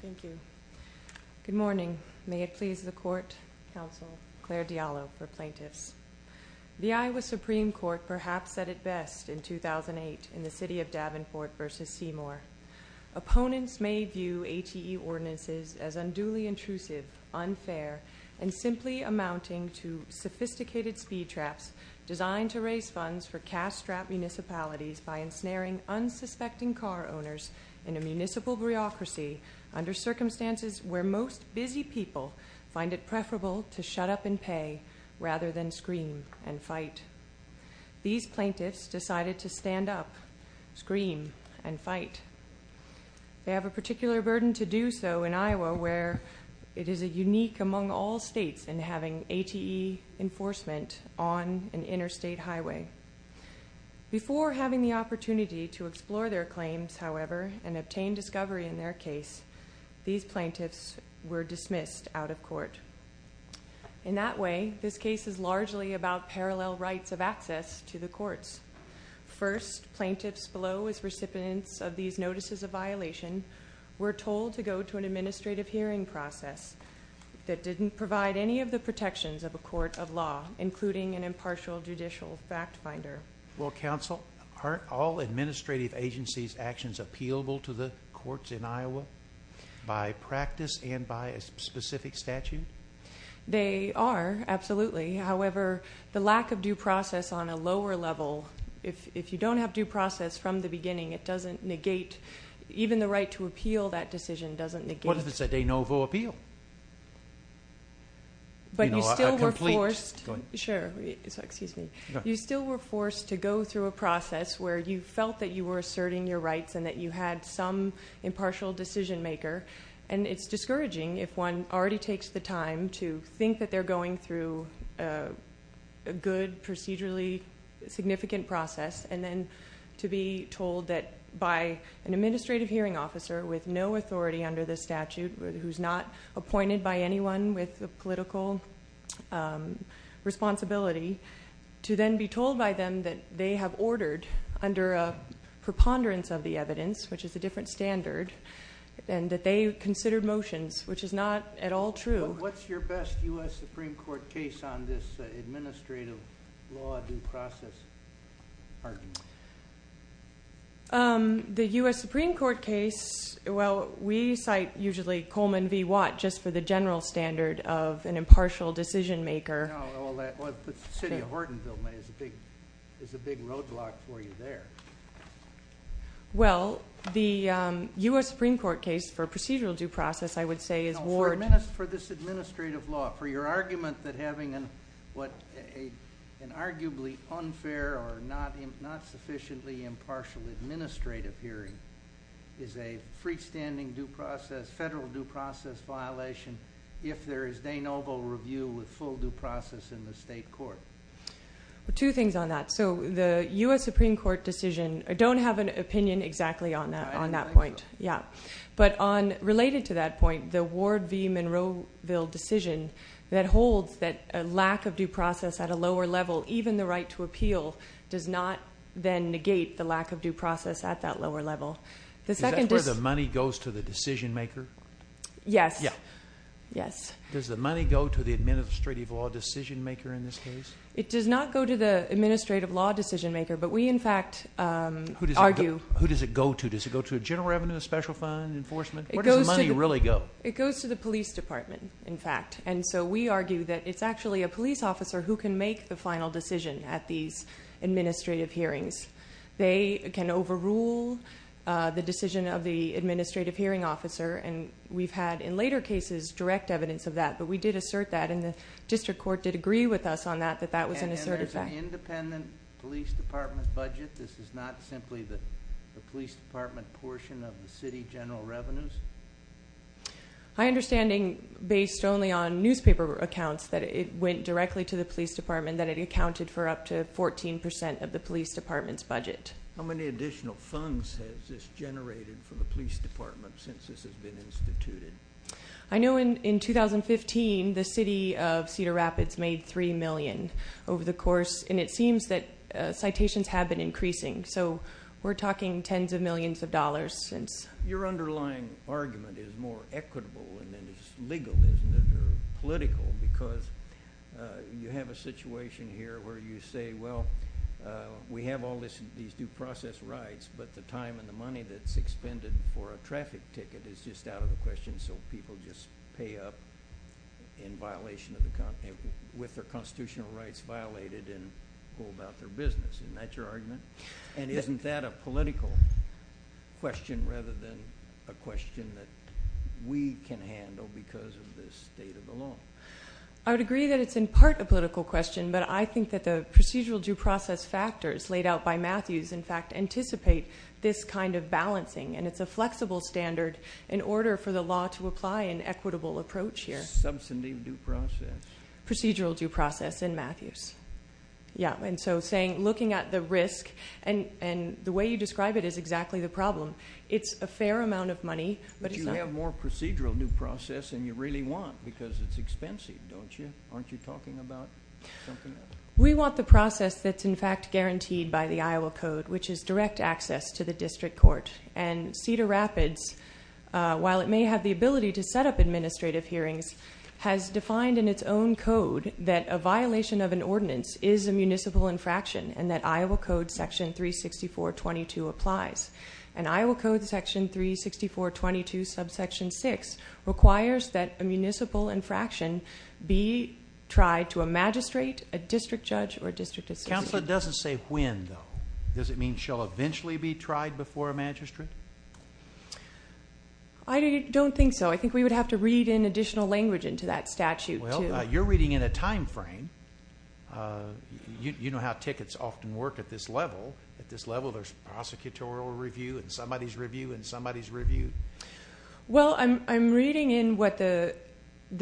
Thank you. Good morning. May it please the Court, Counsel Claire Diallo for Plaintiffs. The Iowa Supreme Court perhaps said it best in 2008 in the City of Davenport v. Seymour. Opponents may view HEE ordinances as unduly intrusive, unfair, and simply amounting to sophisticated speed traps designed to raise funds for cash-strapped municipalities by ensnaring unsuspecting car owners in a municipal bureaucracy under circumstances where most busy people find it preferable to shut up and pay rather than scream and fight. These plaintiffs decided to stand up, scream, and fight. They have a particular burden to do so in Iowa, where it is unique among all states in having ATE enforcement on an interstate highway. Before having the opportunity to explore their claims, however, and obtain discovery in their case, these plaintiffs were dismissed out of court. In that way, this case is largely about parallel rights of access to the courts. First, plaintiffs below as recipients of these notices of violation were told to go to an administrative hearing process that didn't provide any of the protections of a court of law, including an impartial judicial fact finder. Well, counsel, aren't all administrative agencies' actions appealable to the courts in Iowa by practice and by a specific statute? They are, absolutely. However, the lack of due process on a lower level, if you don't have due process from the beginning, it doesn't negate. Even the right to appeal that decision doesn't negate. What if it's a de novo appeal? But you still were forced to go through a process where you felt that you were asserting your rights and that you had some impartial decision maker, and it's discouraging if one already takes the time to think that they're going through a good, procedurally significant process, and then to be told that by an administrative hearing officer with no authority under the statute, who's not appointed by anyone with political responsibility, to then be told by them that they have ordered under a preponderance of the evidence, which is a different standard, and that they considered motions, which is not at all true. What's your best U.S. Supreme Court case on this administrative law due process argument? The U.S. Supreme Court case, well, we cite usually Coleman v. Watt just for the general standard of an impartial decision maker. Well, the city of Hortonville is a big roadblock for you there. Well, the U.S. Supreme Court case for procedural due process, I would say, is Ward. For this administrative law, for your argument that having an arguably unfair or not sufficiently impartial administrative hearing is a freestanding federal due process violation if there is de novo review with full due process in the state court. Two things on that. So the U.S. Supreme Court decision, I don't have an opinion exactly on that point. Yeah. But on related to that point, the Ward v. Monroeville decision that holds that a lack of due process at a lower level, even the right to appeal, does not then negate the lack of due process at that lower level. Is that where the money goes to the decision maker? Yes. Does the money go to the administrative law decision maker in this case? It does not go to the administrative law decision maker, but we, in fact, argue. Who does it go to? Does it go to a general revenue, a special fund, enforcement? Where does the money really go? It goes to the police department, in fact. And so we argue that it's actually a police officer who can make the final decision at these administrative hearings. They can overrule the decision of the administrative hearing officer. And we've had, in later cases, direct evidence of that. But we did assert that, and the district court did agree with us on that, that that was an assertive fact. And there's an independent police department budget. This is not simply the police department portion of the city general revenues? My understanding, based only on newspaper accounts, that it went directly to the police department, that it accounted for up to 14% of the police department's budget. How many additional funds has this generated for the police department since this has been instituted? I know in 2015 the city of Cedar Rapids made $3 million over the course, and it seems that citations have been increasing. So we're talking tens of millions of dollars since. Your underlying argument is more equitable than it is legal, isn't it, or political, because you have a situation here where you say, well, we have all these due process rights, but the time and the money that's expended for a traffic ticket is just out of the question, so people just pay up in violation of the company with their constitutional rights violated and pull about their business. Isn't that your argument? And isn't that a political question rather than a question that we can handle because of the state of the law? I would agree that it's in part a political question, but I think that the procedural due process factors laid out by Matthews, in fact, anticipate this kind of balancing, and it's a flexible standard in order for the law to apply an equitable approach here. Substantive due process. Procedural due process in Matthews. Yeah, and so looking at the risk, and the way you describe it is exactly the problem. It's a fair amount of money, but it's not. But you have more procedural due process than you really want because it's expensive, don't you? Aren't you talking about something else? We want the process that's, in fact, guaranteed by the Iowa Code, which is direct access to the district court. And Cedar Rapids, while it may have the ability to set up administrative hearings, has defined in its own code that a violation of an ordinance is a municipal infraction and that Iowa Code section 364.22 applies. And Iowa Code section 364.22 subsection 6 requires that a municipal infraction be tried to a magistrate, a district judge, or a district associate. The counselor doesn't say when, though. Does it mean shall eventually be tried before a magistrate? I don't think so. I think we would have to read in additional language into that statute. Well, you're reading in a time frame. You know how tickets often work at this level. At this level, there's prosecutorial review and somebody's review and somebody's review. Well, I'm reading in what the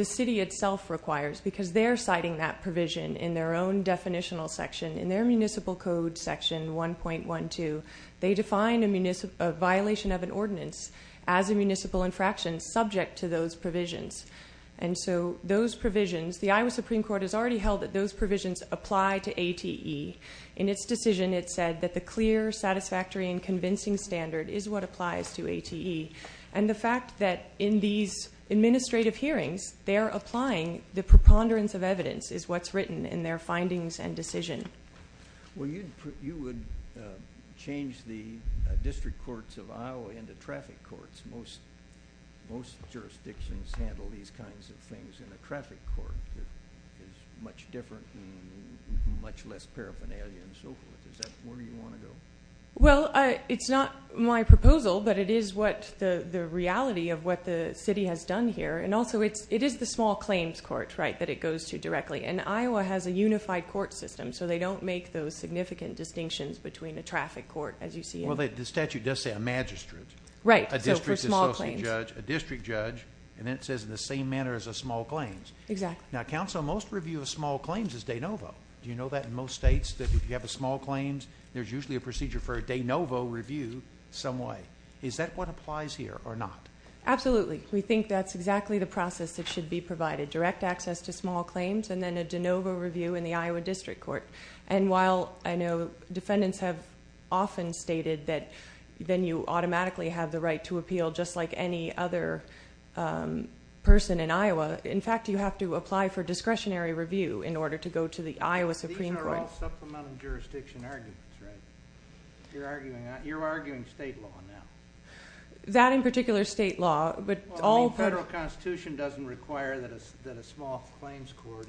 city itself requires because they're citing that provision in their own definitional section. In their municipal code section 1.12, they define a violation of an ordinance as a municipal infraction subject to those provisions. And so those provisions, the Iowa Supreme Court has already held that those provisions apply to ATE. In its decision, it said that the clear, satisfactory, and convincing standard is what applies to ATE. And the fact that in these administrative hearings, they're applying the preponderance of evidence is what's written in their findings and decision. Well, you would change the district courts of Iowa into traffic courts. Most jurisdictions handle these kinds of things in a traffic court. It's much different and much less paraphernalia and so forth. Is that where you want to go? Well, it's not my proposal, but it is the reality of what the city has done here. And also, it is the small claims court that it goes to directly. And Iowa has a unified court system, so they don't make those significant distinctions between a traffic court as you see it. Well, the statute does say a magistrate. Right, so for small claims. A district judge. And then it says in the same manner as a small claims. Exactly. Now, counsel, most review of small claims is de novo. Do you know that in most states that if you have a small claims, there's usually a procedure for a de novo review some way? Is that what applies here or not? Absolutely. We think that's exactly the process that should be provided, direct access to small claims and then a de novo review in the Iowa district court. And while I know defendants have often stated that then you automatically have the right to appeal just like any other person in Iowa, in fact, you have to apply for discretionary review in order to go to the Iowa Supreme Court. Those are all supplemental jurisdiction arguments, right? You're arguing state law now. That, in particular, state law. Federal Constitution doesn't require that a small claims court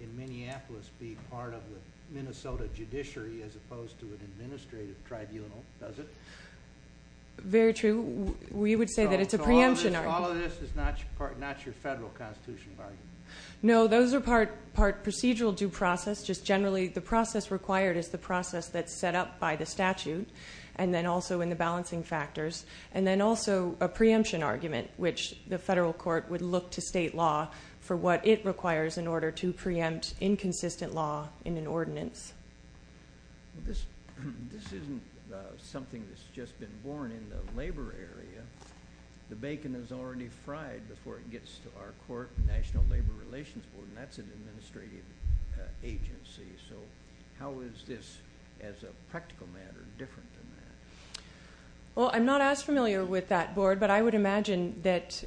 in Minneapolis be part of the Minnesota judiciary as opposed to an administrative tribunal, does it? Very true. We would say that it's a preemption argument. So all of this is not your federal constitutional argument? No, those are part procedural due process, just generally the process required is the process that's set up by the statute and then also in the balancing factors and then also a preemption argument, which the federal court would look to state law for what it requires in order to preempt inconsistent law in an ordinance. This isn't something that's just been born in the labor area. The bacon is already fried before it gets to our court, National Labor Relations Board, and that's an administrative agency. So how is this, as a practical matter, different than that? Well, I'm not as familiar with that board, but I would imagine that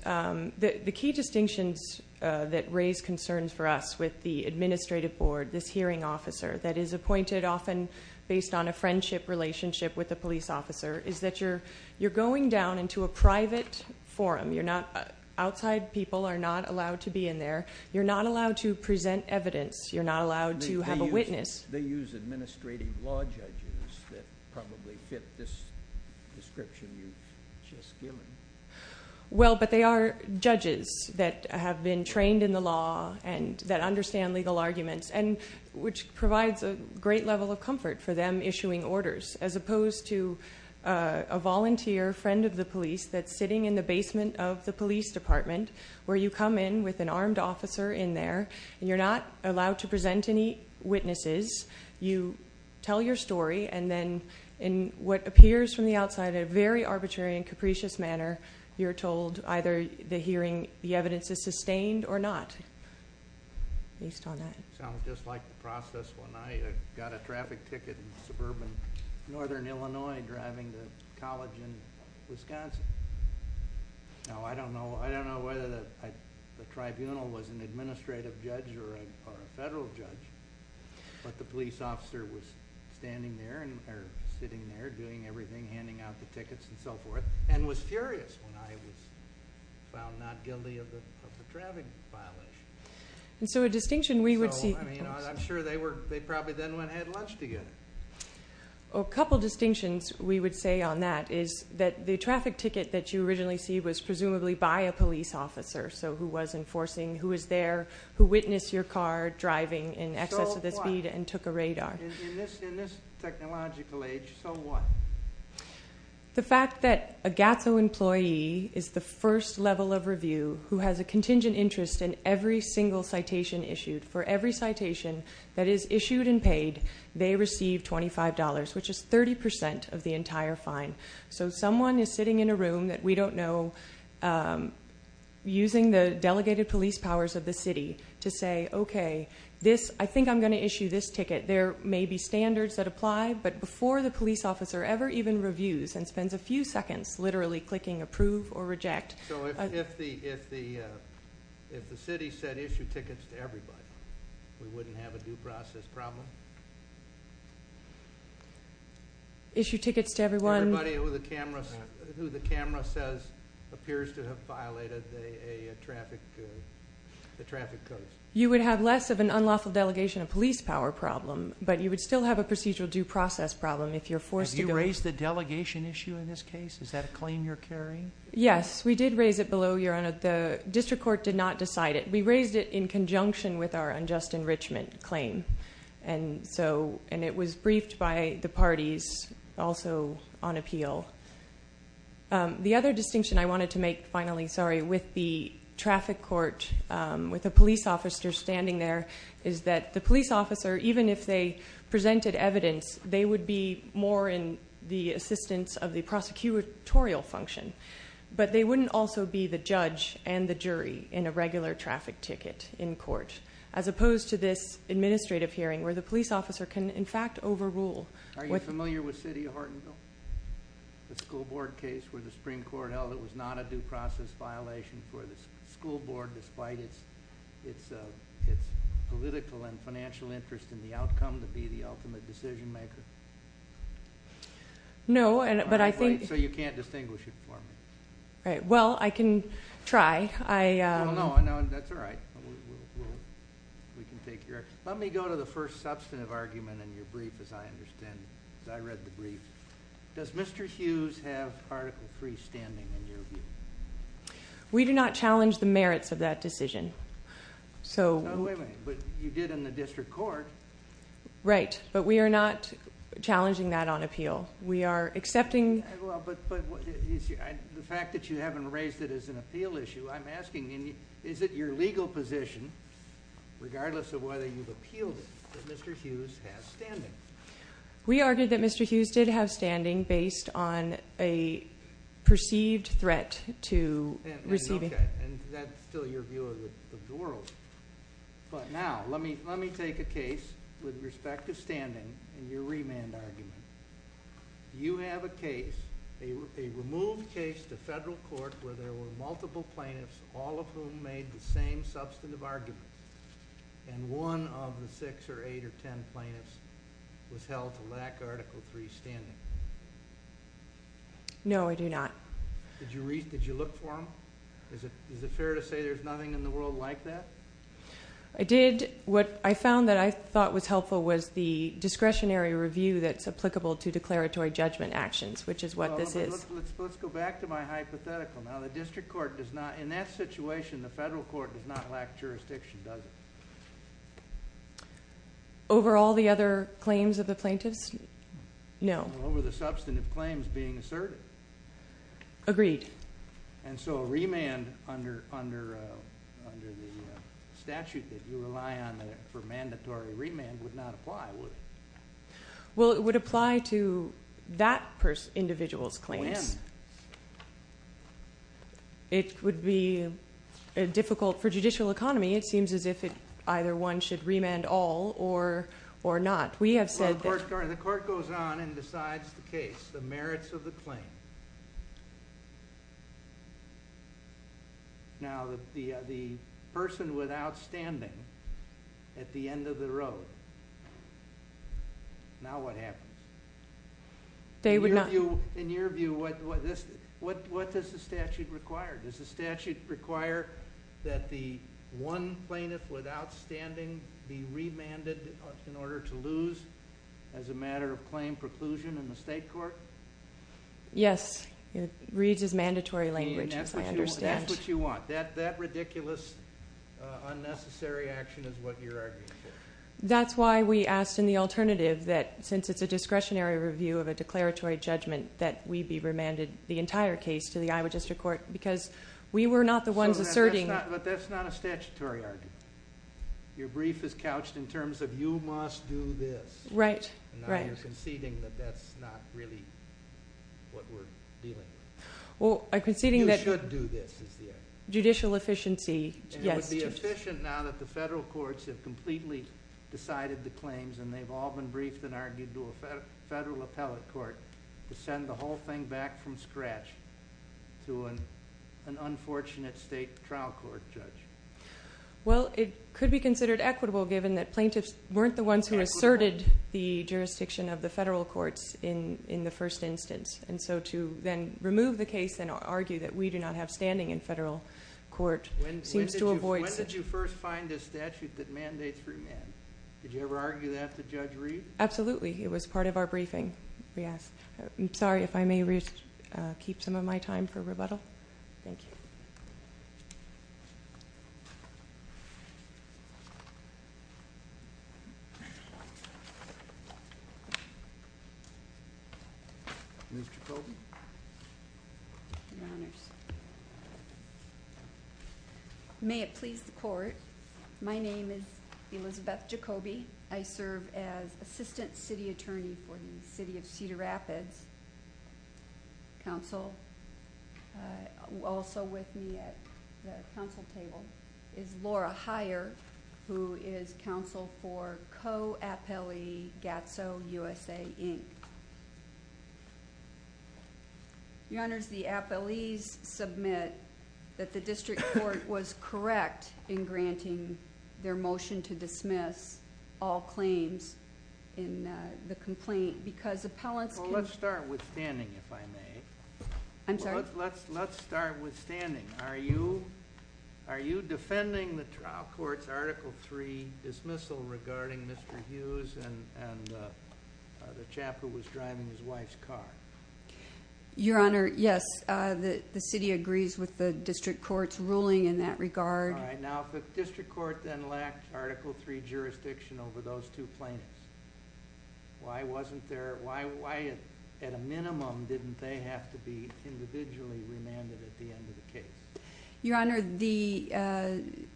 the key distinctions that raise concerns for us with the administrative board, this hearing officer, that is appointed often based on a friendship relationship with the police officer, is that you're going down into a private forum. Outside people are not allowed to be in there. You're not allowed to present evidence. You're not allowed to have a witness. They use administrative law judges that probably fit this description you've just given. Well, but they are judges that have been trained in the law and that understand legal arguments, which provides a great level of comfort for them issuing orders, as opposed to a volunteer friend of the police that's sitting in the basement of the police department where you come in with an armed officer in there, and you're not allowed to present any witnesses. You tell your story, and then in what appears from the outside in a very arbitrary and capricious manner, you're told either the evidence is sustained or not, based on that. It sounds just like the process when I got a traffic ticket in suburban northern Illinois driving to college in Wisconsin. Now, I don't know whether the tribunal was an administrative judge or a federal judge, but the police officer was standing there, or sitting there, doing everything, handing out the tickets and so forth, and was furious when I was found not guilty of the traffic violation. And so a distinction we would see. I'm sure they probably then went and had lunch together. A couple distinctions we would say on that is that the traffic ticket that you originally see was presumably by a police officer, so who was enforcing, who was there, who witnessed your car driving in excess of the speed and took a radar. In this technological age, so what? The fact that a GATSO employee is the first level of review who has a contingent interest in every single citation issued. For every citation that is issued and paid, they receive $25, which is 30% of the entire fine. So someone is sitting in a room that we don't know, using the delegated police powers of the city to say, okay, I think I'm going to issue this ticket. There may be standards that apply, but before the police officer ever even reviews and spends a few seconds literally clicking approve or reject. So if the city said issue tickets to everybody, we wouldn't have a due process problem? Issue tickets to everyone? Everybody who the camera says appears to have violated the traffic codes. You would have less of an unlawful delegation of police power problem, but you would still have a procedural due process problem if you're forced to go. Have you raised the delegation issue in this case? Is that a claim you're carrying? Yes, we did raise it below your honor. The district court did not decide it. We raised it in conjunction with our unjust enrichment claim, and it was briefed by the parties also on appeal. The other distinction I wanted to make, finally, sorry, with the traffic court, with the police officer standing there, is that the police officer, even if they presented evidence, they would be more in the assistance of the prosecutorial function, but they wouldn't also be the judge and the jury in a regular traffic ticket in court, as opposed to this administrative hearing where the police officer can, in fact, overrule. Are you familiar with the city of Hortonville, the school board case where the Supreme Court held it was not a due process violation for the school board despite its political and financial interest in the outcome to be the ultimate decision maker? No. Wait, so you can't distinguish it for me? Well, I can try. I don't know. That's all right. Let me go to the first substantive argument in your brief, as I understand it, because I read the brief. Does Mr. Hughes have Article III standing in your view? We do not challenge the merits of that decision. Wait a minute, but you did in the district court. Right, but we are not challenging that on appeal. We are accepting. Well, but the fact that you haven't raised it as an appeal issue, I'm asking is it your legal position, regardless of whether you've appealed it, that Mr. Hughes has standing? We argued that Mr. Hughes did have standing based on a perceived threat to receiving. Okay, and that's still your view of the world. But now, let me take a case with respect to standing in your remand argument. You have a case, a removed case to federal court, where there were multiple plaintiffs, all of whom made the same substantive argument, and one of the six or eight or ten plaintiffs was held to lack Article III standing. No, I do not. Did you look for them? No. Is it fair to say there's nothing in the world like that? I did. What I found that I thought was helpful was the discretionary review that's applicable to declaratory judgment actions, which is what this is. Let's go back to my hypothetical. Now, the district court does not, in that situation, the federal court does not lack jurisdiction, does it? Over all the other claims of the plaintiffs? No. Over the substantive claims being asserted. Agreed. And so a remand under the statute that you rely on for mandatory remand would not apply, would it? Well, it would apply to that individual's claims. When? It would be difficult for judicial economy. It seems as if either one should remand all or not. We have said that. Well, the court goes on and decides the case, the merits of the claim. Now, the person without standing at the end of the road, now what happens? They would not. In your view, what does the statute require? Does the statute require that the one plaintiff without standing be remanded in order to lose as a matter of claim preclusion in the state court? Yes. It reads as mandatory language, as I understand. That's what you want. That ridiculous, unnecessary action is what you're arguing for. That's why we asked in the alternative that since it's a discretionary review of a declaratory judgment, that we be remanded the entire case to the Iowa District Court because we were not the ones asserting. But that's not a statutory argument. Your brief is couched in terms of you must do this. Right. Now you're conceding that that's not really what we're dealing with. Well, I'm conceding that- You should do this is the argument. Judicial efficiency, yes. It would be efficient now that the federal courts have completely decided the claims and they've all been briefed and argued to a federal appellate court to send the whole thing back from scratch to an unfortunate state trial court judge. Well, it could be considered equitable given that plaintiffs weren't the ones who asserted the jurisdiction of the federal courts in the first instance. And so to then remove the case and argue that we do not have standing in federal court seems to avoid- When did you first find a statute that mandates remand? Did you ever argue that with Judge Reed? Absolutely. It was part of our briefing. I'm sorry if I may keep some of my time for rebuttal. Thank you. Ms. Jacoby. Your Honors. May it please the court, my name is Elizabeth Jacoby. I serve as Assistant City Attorney for the City of Cedar Rapids Council. Also with me at the council table is Laura Heyer, who is counsel for Co-Appellee Gatso USA, Inc. Your Honors, the appellees submit that the district court was correct in granting their motion to dismiss all claims in the complaint because appellants can- I'm sorry? Let's start with standing. Are you defending the trial court's Article III dismissal regarding Mr. Hughes and the chap who was driving his wife's car? Your Honor, yes. The city agrees with the district court's ruling in that regard. Now, if the district court then lacked Article III jurisdiction over those two plaintiffs, why at a minimum didn't they have to be individually remanded at the end of the case? Your Honor, the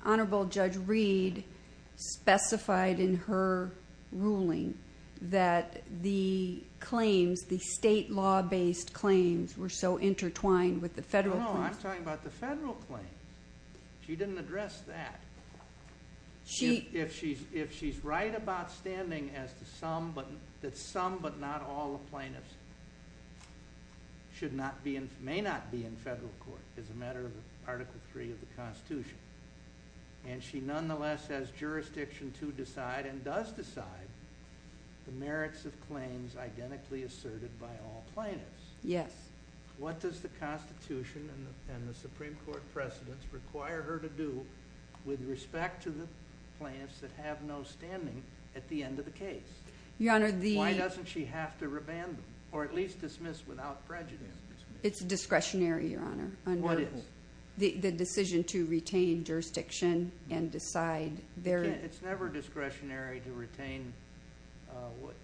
Honorable Judge Reed specified in her ruling that the claims, the state law-based claims, were so intertwined with the federal claims. No, I'm talking about the federal claims. She didn't address that. If she's right about standing that some but not all the plaintiffs may not be in federal court as a matter of Article III of the Constitution, and she nonetheless has jurisdiction to decide and does decide the merits of claims identically asserted by all plaintiffs. Yes. What does the Constitution and the Supreme Court precedents require her to do with respect to the plaintiffs that have no standing at the end of the case? Your Honor, the- Why doesn't she have to remand them or at least dismiss without prejudice? It's discretionary, Your Honor. What is? The decision to retain jurisdiction and decide their- It's never discretionary to retain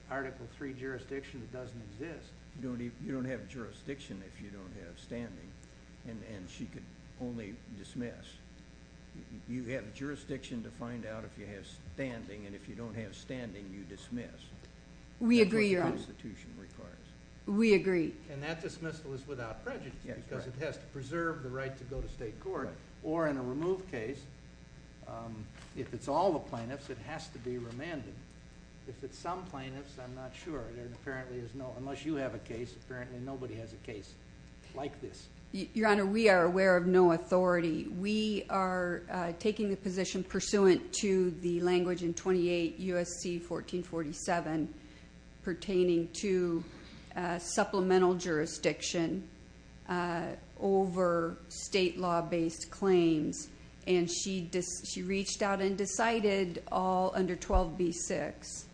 Article III jurisdiction that doesn't exist. You don't have jurisdiction if you don't have standing, and she could only dismiss. You have jurisdiction to find out if you have standing, and if you don't have standing, you dismiss. We agree, Your Honor. That's what the Constitution requires. We agree. And that dismissal is without prejudice because it has to preserve the right to go to state court, or in a removed case, if it's all the plaintiffs, it has to be remanded. If it's some plaintiffs, I'm not sure. There apparently is no- unless you have a case, apparently nobody has a case like this. Your Honor, we are aware of no authority. We are taking the position pursuant to the language in 28 U.S.C. 1447 pertaining to supplemental jurisdiction over state law-based claims. And she reached out and decided all under 12b-6.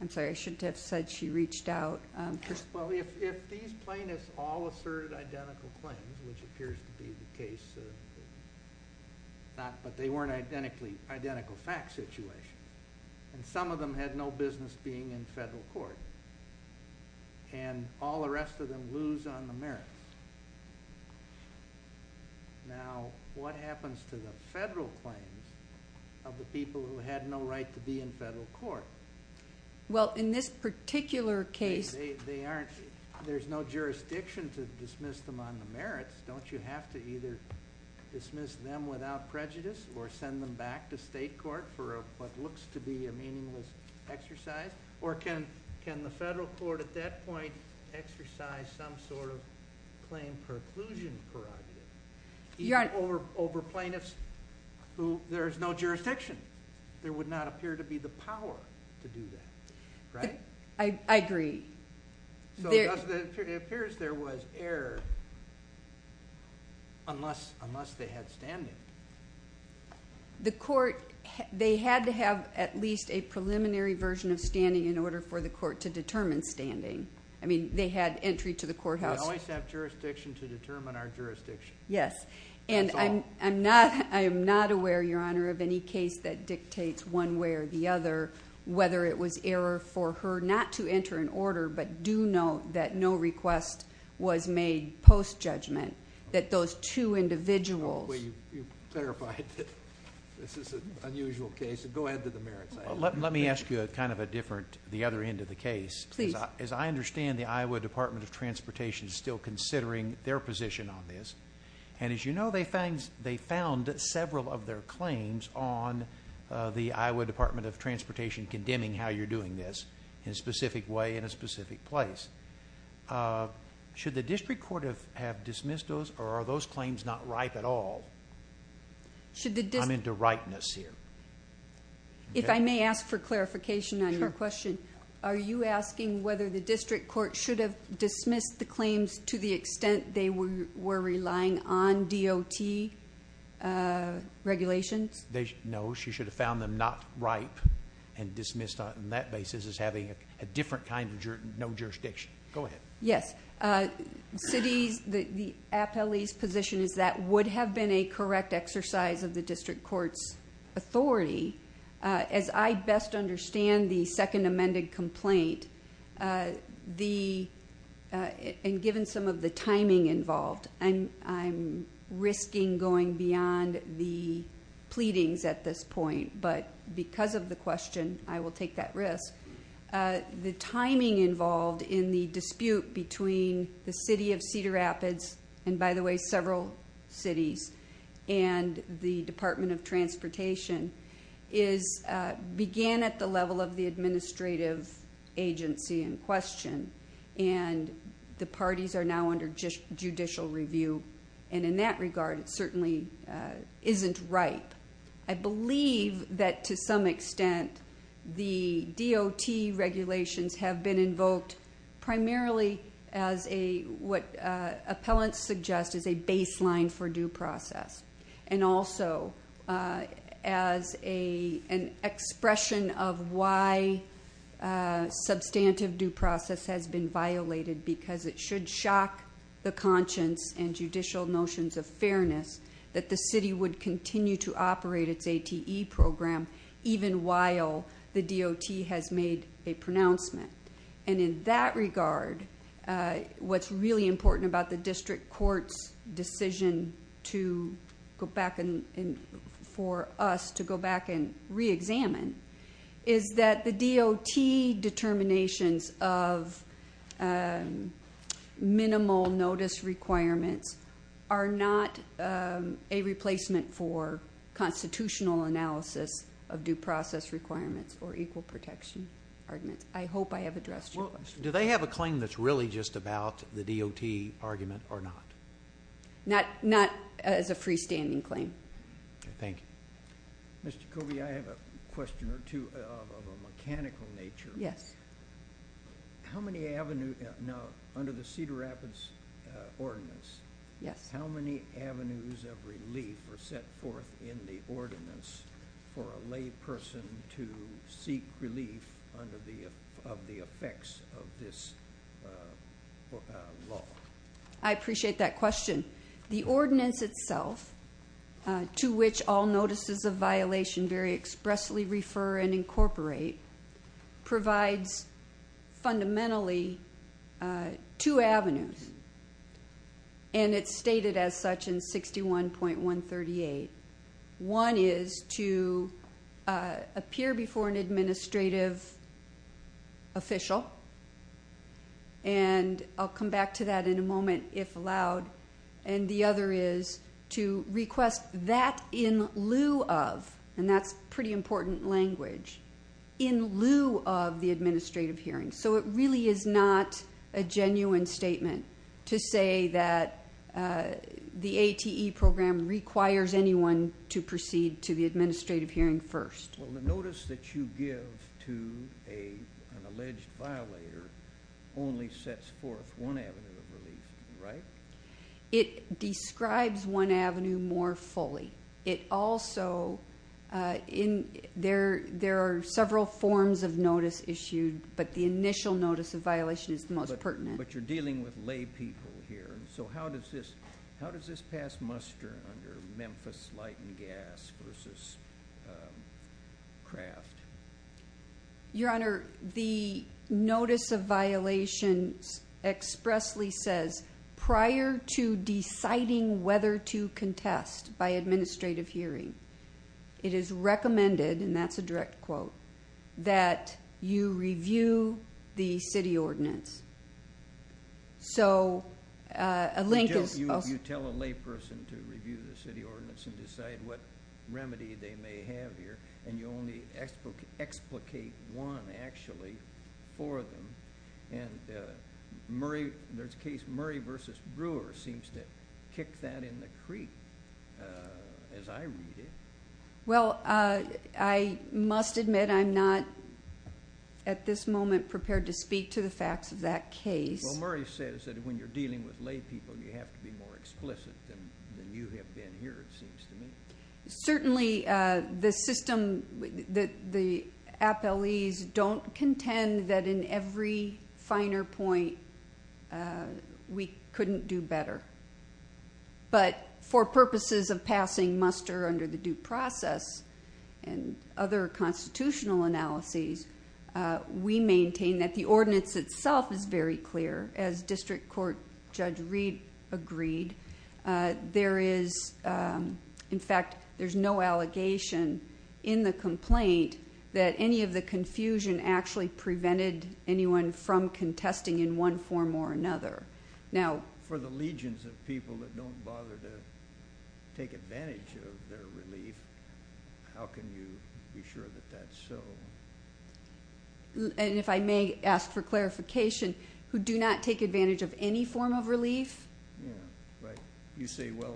I'm sorry, I shouldn't have said she reached out. Well, if these plaintiffs all asserted identical claims, which appears to be the case, but they weren't identical fact situations, and some of them had no business being in federal court, and all the rest of them lose on the merits. Now, what happens to the federal claim of the people who had no right to be in federal court? Well, in this particular case- They aren't- there's no jurisdiction to dismiss them on the merits. Don't you have to either dismiss them without prejudice or send them back to state court for what looks to be a meaningless exercise? Or can the federal court at that point exercise some sort of claim preclusion prerogative over plaintiffs who there is no jurisdiction? There would not appear to be the power to do that, right? I agree. So it appears there was error unless they had standing. The court- they had to have at least a preliminary version of standing in order for the court to determine standing. I mean, they had entry to the courthouse- We always have jurisdiction to determine our jurisdiction. Yes, and I'm not aware, Your Honor, of any case that dictates one way or the other whether it was error for her not to enter an order, but do note that no request was made post-judgment, that those two individuals- Well, you've clarified that this is an unusual case. Go ahead to the merits side. Let me ask you kind of a different- the other end of the case. Please. As I understand, the Iowa Department of Transportation is still considering their position on this. And as you know, they found several of their claims on the Iowa Department of Transportation condemning how you're doing this in a specific way in a specific place. Should the district court have dismissed those or are those claims not ripe at all? I'm into ripeness here. If I may ask for clarification on your question, are you asking whether the district court should have dismissed the claims to the extent they were relying on DOT regulations? No, she should have found them not ripe and dismissed on that basis as having a different kind of no jurisdiction. Go ahead. Yes. The appellee's position is that would have been a correct exercise of the district court's authority. As I best understand the second amended complaint, and given some of the timing involved, I'm risking going beyond the pleadings at this point, but because of the question, I will take that risk. The timing involved in the dispute between the city of Cedar Rapids, and by the way, several cities, and the Department of Transportation began at the level of the administrative agency in question. The parties are now under judicial review, and in that regard, it certainly isn't ripe. I believe that to some extent the DOT regulations have been invoked primarily as what appellants suggest is a baseline for due process, and also as an expression of why substantive due process has been violated, because it should shock the conscience and judicial notions of fairness that the city would continue to operate its ATE program, even while the DOT has made a pronouncement. In that regard, what's really important about the district court's decision for us to go back and re-examine, is that the DOT determinations of minimal notice requirements are not a replacement for constitutional analysis of due process requirements or equal protection arguments. I hope I have addressed your question. Do they have a claim that's really just about the DOT argument or not? Not as a freestanding claim. Okay, thank you. Mr. Covey, I have a question or two of a mechanical nature. Yes. How many avenues, now under the Cedar Rapids Ordinance, how many avenues of relief were set forth in the ordinance for a lay person to seek relief under the effects of this law? I appreciate that question. The ordinance itself, to which all notices of violation very expressly refer and incorporate, provides fundamentally two avenues, and it's stated as such in 61.138. One is to appear before an administrative official, and I'll come back to that in a moment, if allowed. And the other is to request that in lieu of, and that's pretty important language, in lieu of the administrative hearing. So it really is not a genuine statement to say that the ATE program requires anyone to proceed to the administrative hearing first. Well, the notice that you give to an alleged violator only sets forth one avenue of relief, right? It describes one avenue more fully. It also, there are several forms of notice issued, but the initial notice of violation is the most pertinent. But you're dealing with lay people here. So how does this pass muster under Memphis Light and Gas versus Kraft? Your Honor, the notice of violations expressly says prior to deciding whether to contest by administrative hearing, it is recommended, and that's a direct quote, that you review the city ordinance. So a link is... You tell a lay person to review the city ordinance and decide what remedy they may have here, and you only explicate one, actually, for them. And there's a case, Murray v. Brewer seems to kick that in the creek, as I read it. Well, I must admit I'm not at this moment prepared to speak to the facts of that case. Well, Murray says that when you're dealing with lay people, you have to be more explicit than you have been here, it seems to me. Certainly, the system, the appellees don't contend that in every finer point we couldn't do better. But for purposes of passing muster under the due process and other constitutional analyses, we maintain that the ordinance itself is very clear. As District Court Judge Reed agreed, there is, in fact, there's no allegation in the complaint that any of the confusion actually prevented anyone from contesting in one form or another. Now... For the legions of people that don't bother to take advantage of their relief, how can you be sure that that's so? And if I may ask for clarification, who do not take advantage of any form of relief? Yeah, right. You say, well,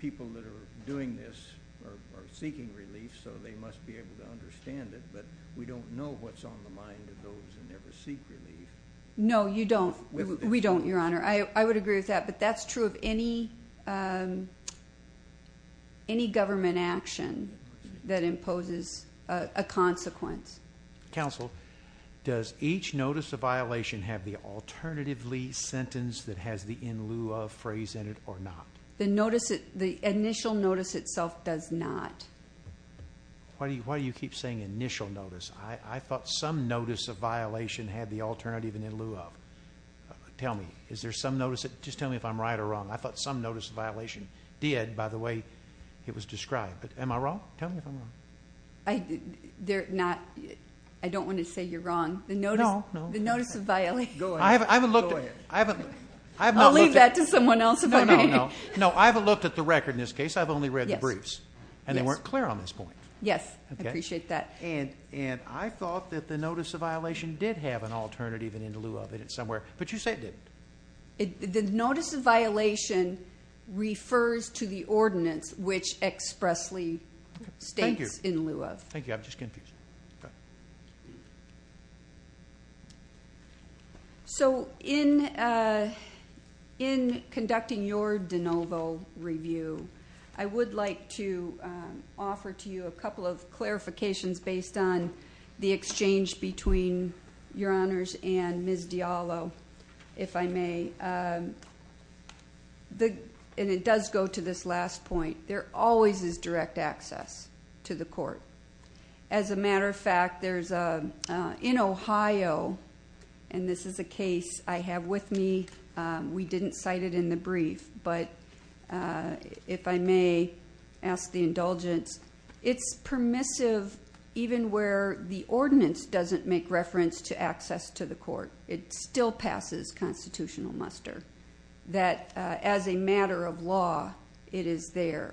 people that are doing this are seeking relief, so they must be able to understand it, but we don't know what's on the mind of those who never seek relief. No, you don't. We don't, Your Honor. I would agree with that, but that's true of any government action that imposes a consequence. Counsel, does each notice of violation have the alternatively sentence that has the in lieu of phrase in it or not? The initial notice itself does not. Why do you keep saying initial notice? I thought some notice of violation had the alternative in lieu of. Tell me, is there some notice? Just tell me if I'm right or wrong. I thought some notice of violation did, by the way it was described. Am I wrong? Tell me if I'm wrong. They're not. I don't want to say you're wrong. No, no. The notice of violation. I haven't looked at it. I'll leave that to someone else. No, no, no. No, I haven't looked at the record in this case. I've only read the briefs, and they weren't clear on this point. Yes, I appreciate that. I thought that the notice of violation did have an alternative in lieu of it somewhere, but you say it didn't. The notice of violation refers to the ordinance which expressly states in lieu of. Thank you. I'm just confused. In conducting your de novo review, I would like to offer to you a couple of clarifications based on the exchange between Your Honors and Ms. Diallo, if I may. It does go to this last point. There always is direct access to the court. As a matter of fact, in Ohio, and this is a case I have with me, we didn't cite it in the brief, but if I may ask the indulgence, it's permissive even where the ordinance doesn't make reference to access to the court. It still passes constitutional muster. That as a matter of law, it is there.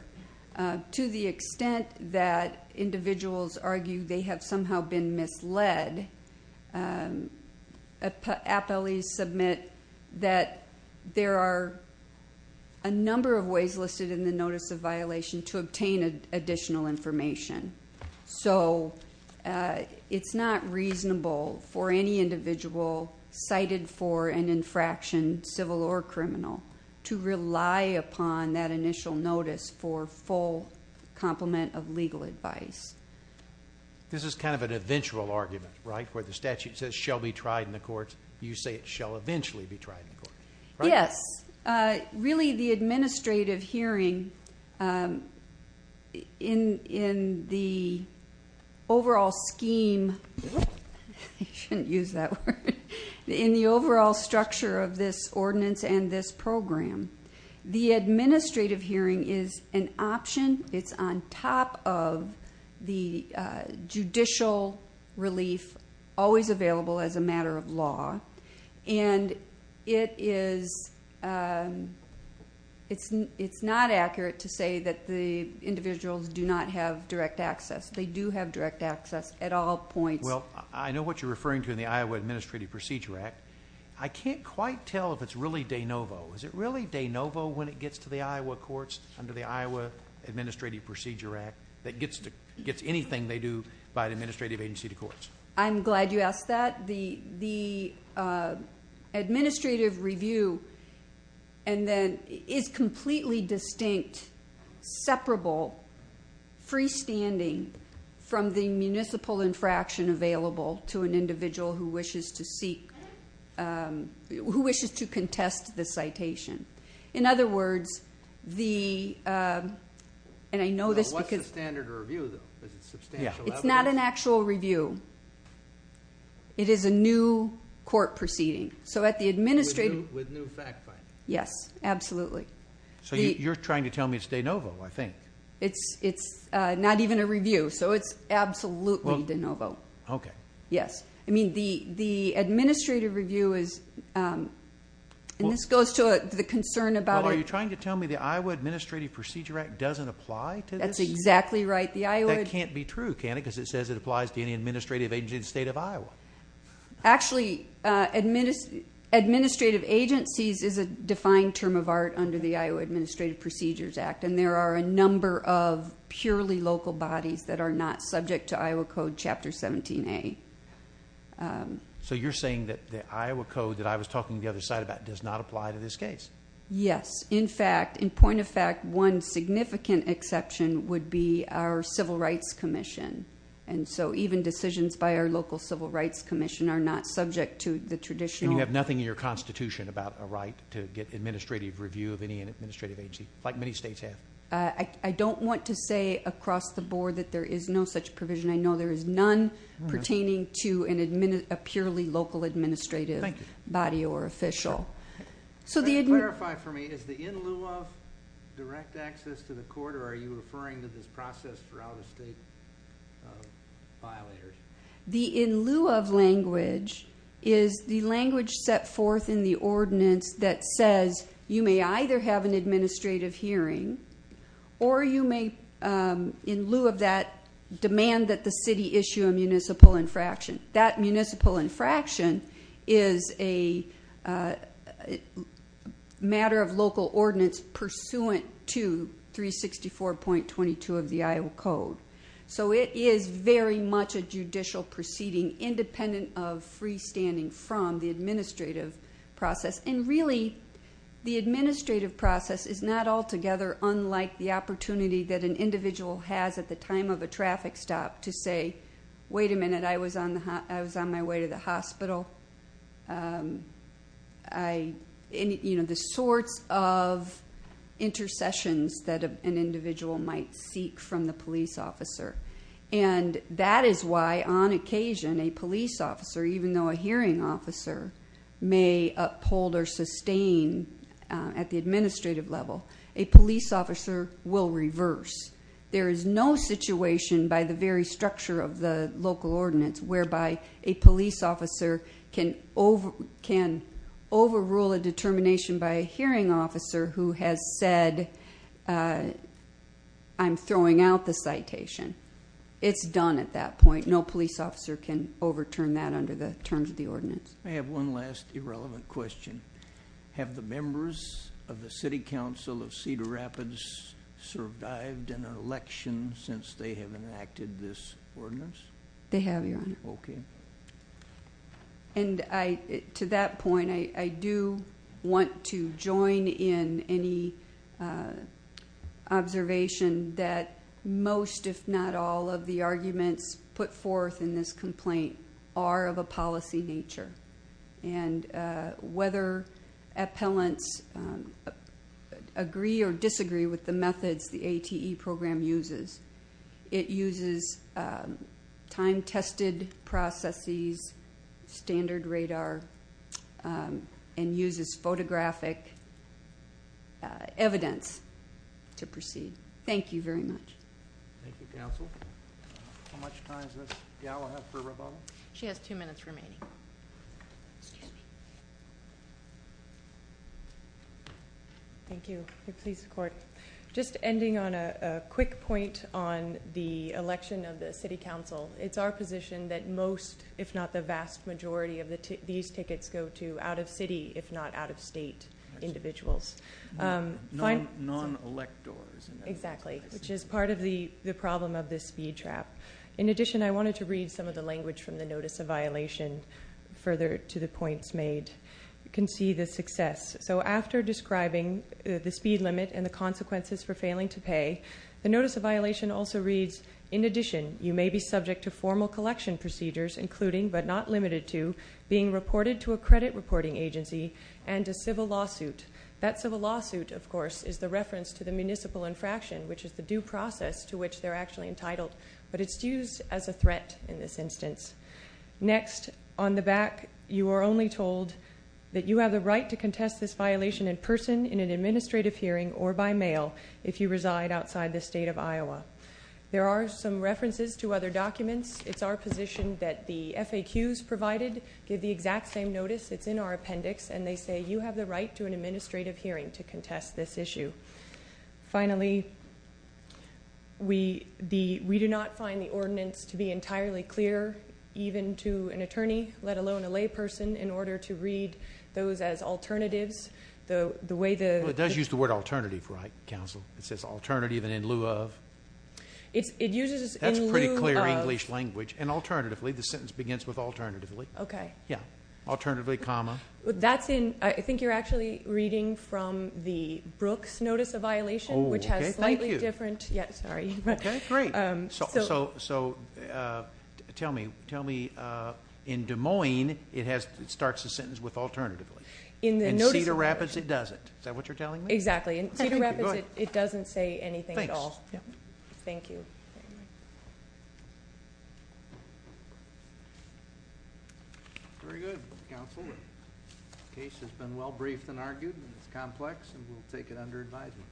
To the extent that individuals argue they have somehow been misled, appellees submit that there are a number of ways listed in the notice of violation to obtain additional information. So it's not reasonable for any individual cited for an infraction, civil or criminal, to rely upon that initial notice for full complement of legal advice. This is kind of an eventual argument, right, where the statute says shall be tried in the courts. You say it shall eventually be tried in court, right? Yes. Really, the administrative hearing in the overall scheme, I shouldn't use that word, in the overall structure of this ordinance and this program, the administrative hearing is an option. It's on top of the judicial relief always available as a matter of law. And it is not accurate to say that the individuals do not have direct access. They do have direct access at all points. Well, I know what you're referring to in the Iowa Administrative Procedure Act. I can't quite tell if it's really de novo. Is it really de novo when it gets to the Iowa courts under the Iowa Administrative Procedure Act that gets anything they do by an administrative agency to courts? I'm glad you asked that. The administrative review is completely distinct, separable, freestanding from the municipal infraction available to an individual who wishes to contest the citation. In other words, the – and I know this because – What's the standard of review, though? Is it substantial evidence? It's not an actual review. It is a new court proceeding. So at the administrative – With new fact-finding. Yes, absolutely. So you're trying to tell me it's de novo, I think. It's not even a review, so it's absolutely de novo. Okay. Yes. I mean, the administrative review is – and this goes to the concern about – Well, are you trying to tell me the Iowa Administrative Procedure Act doesn't apply to this? That's exactly right. That can't be true, can it? Because it says it applies to any administrative agency in the state of Iowa. Actually, administrative agencies is a defined term of art under the Iowa Administrative Procedures Act, and there are a number of purely local bodies that are not subject to Iowa Code Chapter 17A. So you're saying that the Iowa Code that I was talking to the other side about does not apply to this case? Yes. In fact, in point of fact, one significant exception would be our Civil Rights Commission. And so even decisions by our local Civil Rights Commission are not subject to the traditional – And you have nothing in your Constitution about a right to get administrative review of any administrative agency, like many states have? I don't want to say across the board that there is no such provision. I know there is none pertaining to a purely local administrative body or official. Can you clarify for me, is the in lieu of direct access to the court, or are you referring to this process for out-of-state violators? The in lieu of language is the language set forth in the ordinance that says you may either have an administrative hearing or you may, in lieu of that, demand that the city issue a municipal infraction. That municipal infraction is a matter of local ordinance pursuant to 364.22 of the Iowa Code. So it is very much a judicial proceeding independent of freestanding from the administrative process. And really, the administrative process is not altogether unlike the opportunity that an individual has at the time of a traffic stop to say, wait a minute, I was on my way to the hospital. You know, the sorts of intercessions that an individual might seek from the police officer. And that is why, on occasion, a police officer, even though a hearing officer, may uphold or sustain at the administrative level, a police officer will reverse. There is no situation by the very structure of the local ordinance whereby a police officer can overrule a determination by a hearing officer who has said, I'm throwing out the citation. It's done at that point. No police officer can overturn that under the terms of the ordinance. I have one last irrelevant question. Have the members of the City Council of Cedar Rapids survived an election since they have enacted this ordinance? They have, Your Honor. Okay. And to that point, I do want to join in any observation that most, if not all, of the arguments put forth in this complaint are of a policy nature. And whether appellants agree or disagree with the methods the ATE program uses, it uses time-tested processes, standard radar, and uses photographic evidence to proceed. Thank you very much. Thank you, Counsel. How much time does this gal have for rebuttal? She has two minutes remaining. Thank you. Just ending on a quick point on the election of the City Council, it's our position that most, if not the vast majority, of these tickets go to out-of-city, if not out-of-state, individuals. Non-electors. Exactly, which is part of the problem of this speed trap. In addition, I wanted to read some of the language from the notice of violation further to the points made. You can see the success. So after describing the speed limit and the consequences for failing to pay, the notice of violation also reads, in addition, you may be subject to formal collection procedures, including, but not limited to, being reported to a credit reporting agency and a civil lawsuit. That civil lawsuit, of course, is the reference to the municipal infraction, which is the due process to which they're actually entitled, but it's used as a threat in this instance. Next, on the back, you are only told that you have the right to contest this violation in person in an administrative hearing or by mail if you reside outside the state of Iowa. There are some references to other documents. It's our position that the FAQs provided give the exact same notice. It's in our appendix, and they say you have the right to an administrative hearing to contest this issue. Finally, we do not find the ordinance to be entirely clear, even to an attorney, let alone a layperson, in order to read those as alternatives. The way the- Well, it does use the word alternative, right, counsel? It says alternative and in lieu of. It uses in lieu of. That's pretty clear English language. And alternatively, the sentence begins with alternatively. Okay. Yeah. Alternatively, comma. I think you're actually reading from the Brooks notice of violation, which has slightly different- Oh, okay, thank you. Yeah, sorry. Okay, great. So tell me, in Des Moines, it starts the sentence with alternatively. In the notice of violation. In Cedar Rapids, it doesn't. Is that what you're telling me? Exactly. In Cedar Rapids, it doesn't say anything at all. Thanks. Thank you. Okay. Very good, counsel. The case has been well briefed and argued. It's complex, and we'll take it under advisement.